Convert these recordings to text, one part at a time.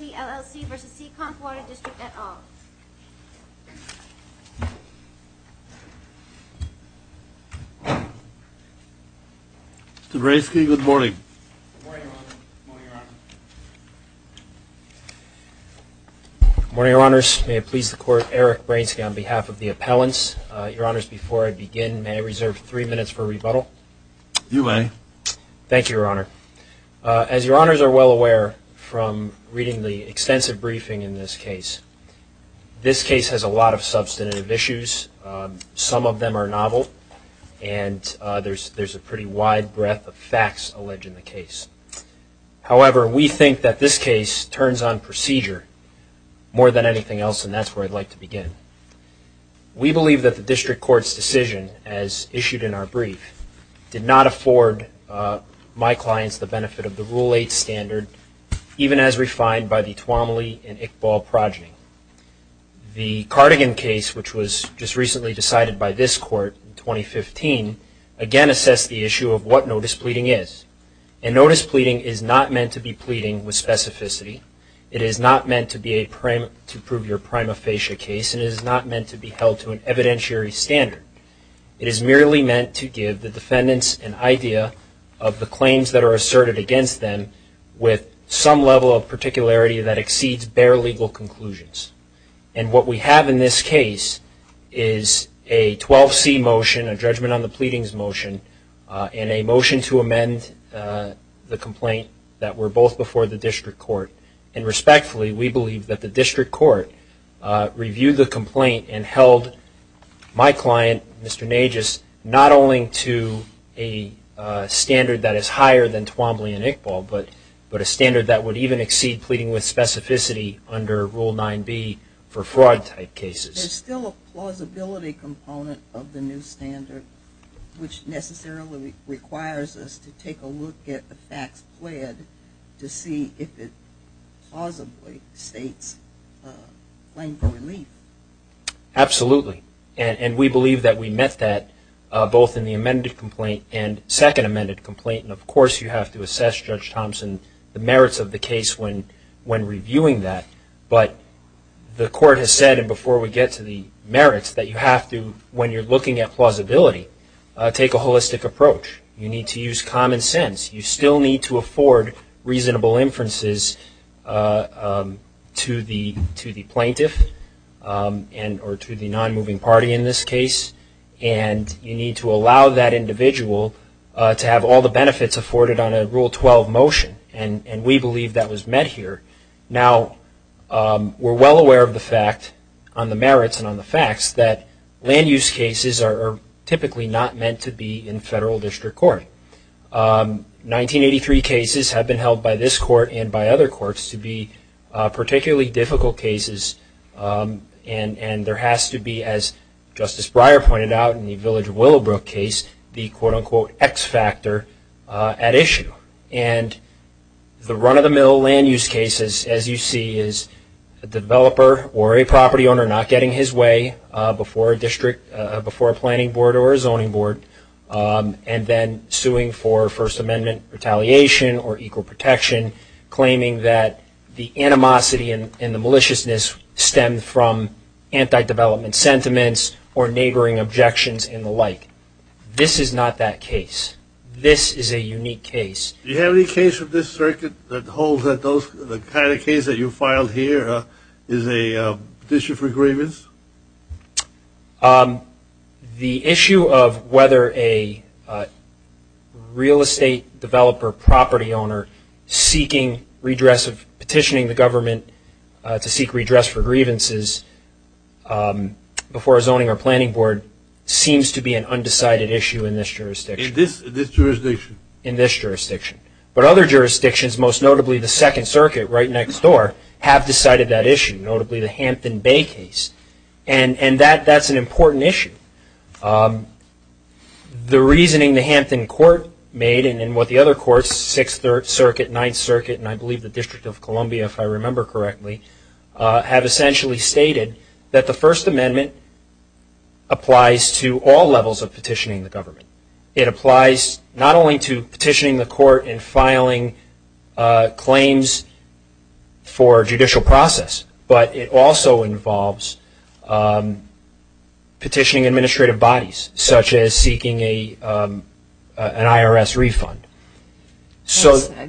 at all. Mr. Bransky, good morning. Good morning, Your Honor. Good morning, Your Honor. Good morning, Your Honors. May it please the Court, Eric Bransky on behalf of the appellants. Your Honors, before I begin, may I reserve three minutes for rebuttal? You may. Thank briefing in this case. This case has a lot of substantive issues. Some of them are novel, and there's a pretty wide breadth of facts alleged in the case. However, we think that this case turns on procedure more than anything else, and that's where I'd like to begin. We believe that the District Court's decision, as issued in our brief, did not afford my and Iqbal progeny. The Cardigan case, which was just recently decided by this Court in 2015, again assessed the issue of what notice pleading is. And notice pleading is not meant to be pleading with specificity. It is not meant to prove your prima facie case, and it is not meant to be held to an evidentiary standard. It is merely meant to give the defendants an idea of the claims that are asserted against them with some level of particularity that exceeds bare legal conclusions. And what we have in this case is a 12C motion, a judgment on the pleadings motion, and a motion to amend the complaint that were both before the District Court. And respectfully, we believe that the District Court reviewed the complaint and not only to a standard that is higher than Twombly and Iqbal, but a standard that would even exceed pleading with specificity under Rule 9B for fraud type cases. There's still a plausibility component of the new standard, which necessarily requires us to take a look at the facts pled to see if it plausibly states claim for relief. Absolutely. And we believe that we met that both in the amended complaint and second amended complaint. And of course, you have to assess, Judge Thompson, the merits of the case when reviewing that. But the Court has said, and before we get to the merits, that you have to, when you're looking at plausibility, take a holistic approach. You need to use common sense. You still need to afford reasonable inferences to the plaintiff or to the non-moving party in this case. And you need to allow that individual to have all the benefits afforded on a Rule 12 motion. And we believe that was met here. Now, we're well aware of the fact, on the merits and on the facts, that land use cases are typically not meant to be in federal district court. 1983 cases have been held by this Court and by other courts to be particularly difficult cases. And there has to be, as Justice Breyer pointed out in the Village of Willowbrook case, the quote-unquote X factor at issue. And the run-of-the-mill land use cases, as you see, is a developer or a property owner not getting his way before a district, before a planning board or a zoning board, and then suing for First Amendment retaliation or equal protection, claiming that the animosity and the maliciousness stem from anti-development sentiments or neighboring objections and the like. This is not that case. This is a unique case. Do you have any case of this circuit that holds that those, the kind of case that you filed here is a petition for grievance? The issue of whether a real estate developer, property owner, seeking redress, petitioning the government to seek redress for grievances before a zoning or planning board seems to be an undecided issue in this jurisdiction. In this jurisdiction? In this jurisdiction. But other jurisdictions, most notably the Second Circuit right next door, have decided that issue, notably the Hampton Bay case. And that's an important issue. The reasoning the Hampton Court made and what the other courts, Sixth Circuit, Ninth Circuit, and I believe the District of Columbia, if I remember correctly, have essentially stated that the First Amendment applies to all levels of petitioning the government. It applies not only to petitioning the court and filing claims for judicial process, but it also involves petitioning administrative bodies, such as seeking an IRS refund.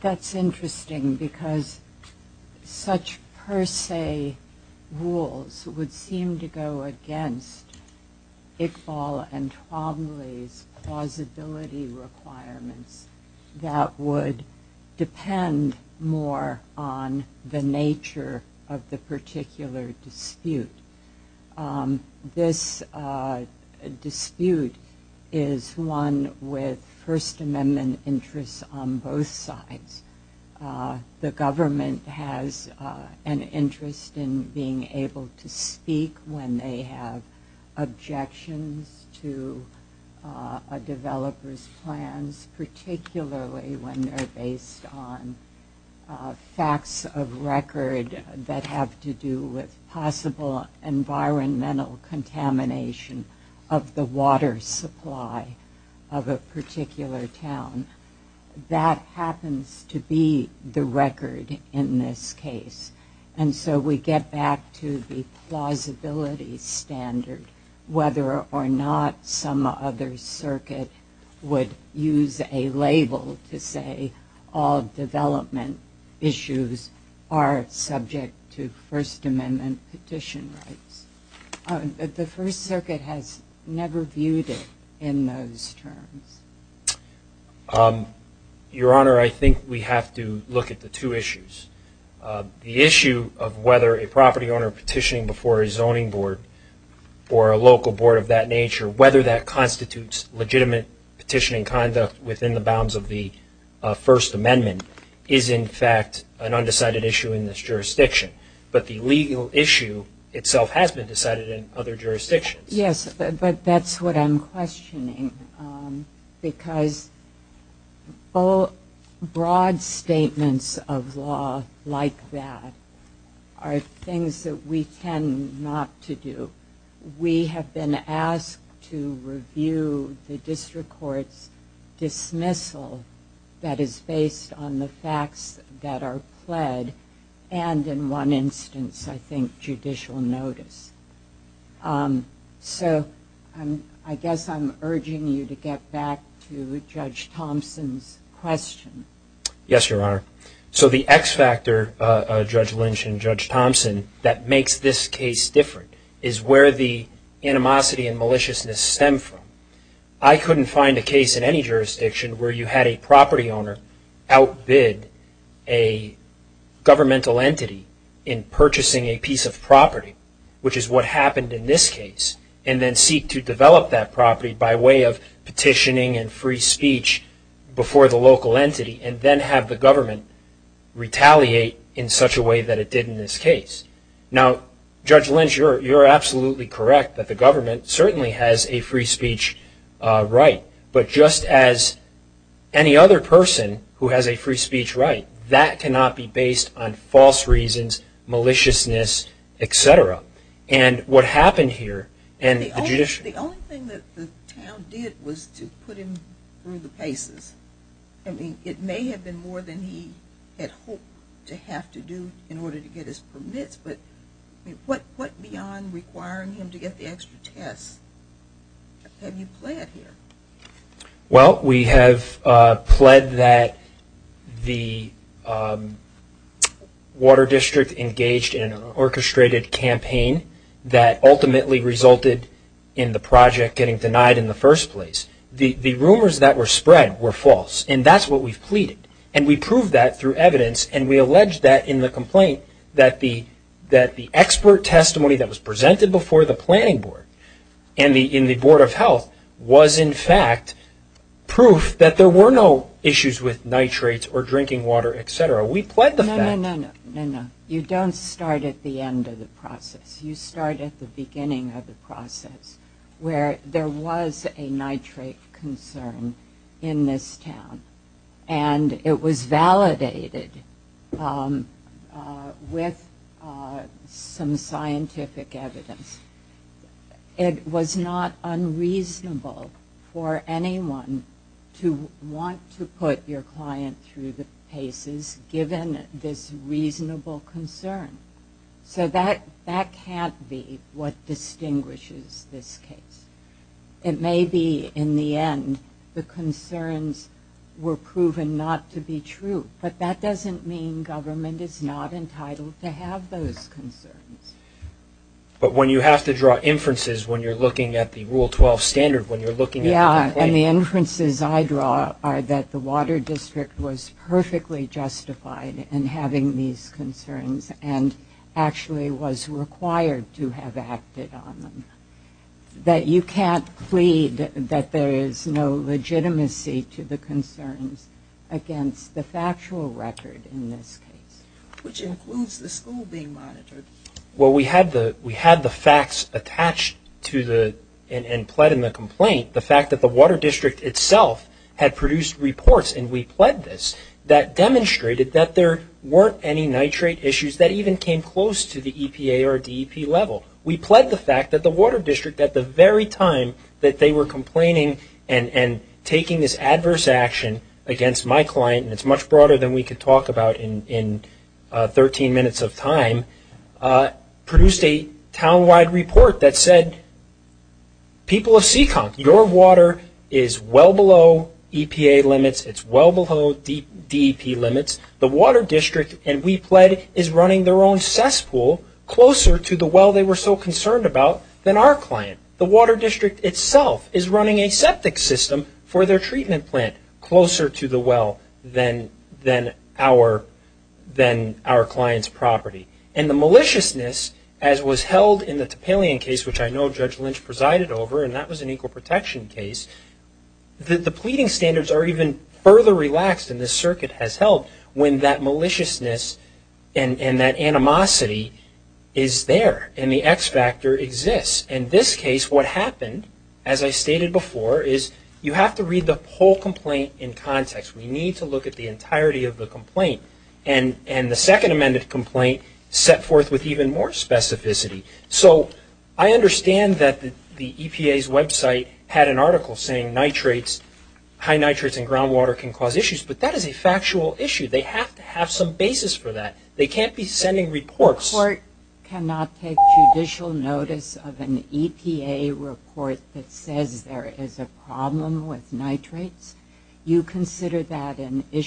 That's interesting because such per se rules would seem to go against Iqbal and Twombly's plausibility requirements that would depend more on the nature of the particular dispute. This dispute is one with First Amendment interests on both sides. The government has an interest in being able to speak when they have objections to a developer's plans, particularly when they're based on facts of record that have to do with possible environmental contamination of the water supply of a particular town. That happens to be the record in this case. And so we get back to the plausibility standard, whether or not some other circuit would use a label to say all development issues are subject to First Amendment petition rights. The First Circuit has never viewed it in those terms. Your Honor, I think we have to look at the two issues. The issue of whether a property owner petitioning before a zoning board or a local board of that nature, whether that within the bounds of the First Amendment, is in fact an undecided issue in this jurisdiction. But the legal issue itself has been decided in other jurisdictions. Yes, but that's what I'm questioning because broad statements of law like that are things that we tend not to do. We have been asked to review the district court's dismissal that is based on the facts that are pled and in one instance, I think, judicial notice. So I guess I'm urging you to get back to Judge Thompson's question. Yes, Your Honor. So the X factor, Judge Lynch and Judge Thompson, that makes this case different is where the animosity and maliciousness stem from. I couldn't find a case in any jurisdiction where you had a property owner outbid a governmental entity in purchasing a piece of property, which is what happened in this case, and then seek to develop that property by way of petitioning and free speech before the local entity and then have the government retaliate in such a way that it did in this case. Now, Judge Lynch, you're absolutely correct that the government certainly has a free speech right, but just as any other person who has a free speech right, that cannot be based on false reasons, maliciousness, et cetera. And what happened here The only thing that the town did was to put him through the paces. I mean, it may have been more than he had hoped to have to do in order to get his permits, but what beyond requiring him to get the extra tests have you pled here? Well, we have pled that the Water District engaged in an orchestrated campaign that ultimately resulted in the project getting denied in the first place. The rumors that were spread were false, and that's what we've pleaded. And we proved that through evidence, and we allege that in the complaint that the expert testimony that was presented before the planning board and in the Board of Health was in fact proof that there were no issues with nitrates or drinking water, et cetera. We pled the fact. No, no, no. You don't start at the end of the process. You start at the beginning of the process where there was a nitrate concern in this town, and it was validated with some scientific evidence. It was not unreasonable for anyone to want to put your client through the paces given this reasonable concern. So that can't be what distinguishes this case. It may be in the end the concerns were proven not to be true, but that doesn't mean government is not entitled to have those concerns. But when you have to draw inferences when you're looking at the Rule 12 standard, when you're looking at the complaint... Yeah, and the inferences I draw are that the Water District was perfectly justified in having these concerns and actually was required to have acted on them, that you can't plead that there is no legitimacy to the concerns against the factual record in this case. Which includes the school being monitored. Well, we had the facts attached and pled in the complaint. The fact that the Water District itself had produced reports, and we pled this, that demonstrated that there weren't any nitrate issues that even came close to the EPA or DEP level. We pled the fact that the Water District at the very time that they were complaining and taking this adverse action against my client, and it's much broader than we could talk about in 13 minutes of time, produced a town-wide report that said, people of Seekonk, your water is well below EPA limits, it's well below DEP limits. The Water District, and we pled, is running their own cesspool closer to the well they were so concerned about than our client. The Water District itself is running a septic system for their treatment plant closer to the well than our client's property. And the maliciousness, as was held in the Topalian case, which I know Judge Lynch presided over, and that was an equal protection case, the pleading standards are even further relaxed, and the circuit has held, when that maliciousness and that animosity is there, and the X factor exists. In this case, what happened, as I stated before, is you have to read the whole complaint in context. We need to look at the entirety of the complaint. And the second amended complaint set forth with even more specificity. So I understand that the EPA's website had an article saying nitrates, high nitrates in groundwater can cause issues, but that is a factual issue. They have to have some basis for that. They can't be sending reports. The court cannot take judicial notice of an EPA report that says there is a problem with nitrates. You consider that an issue?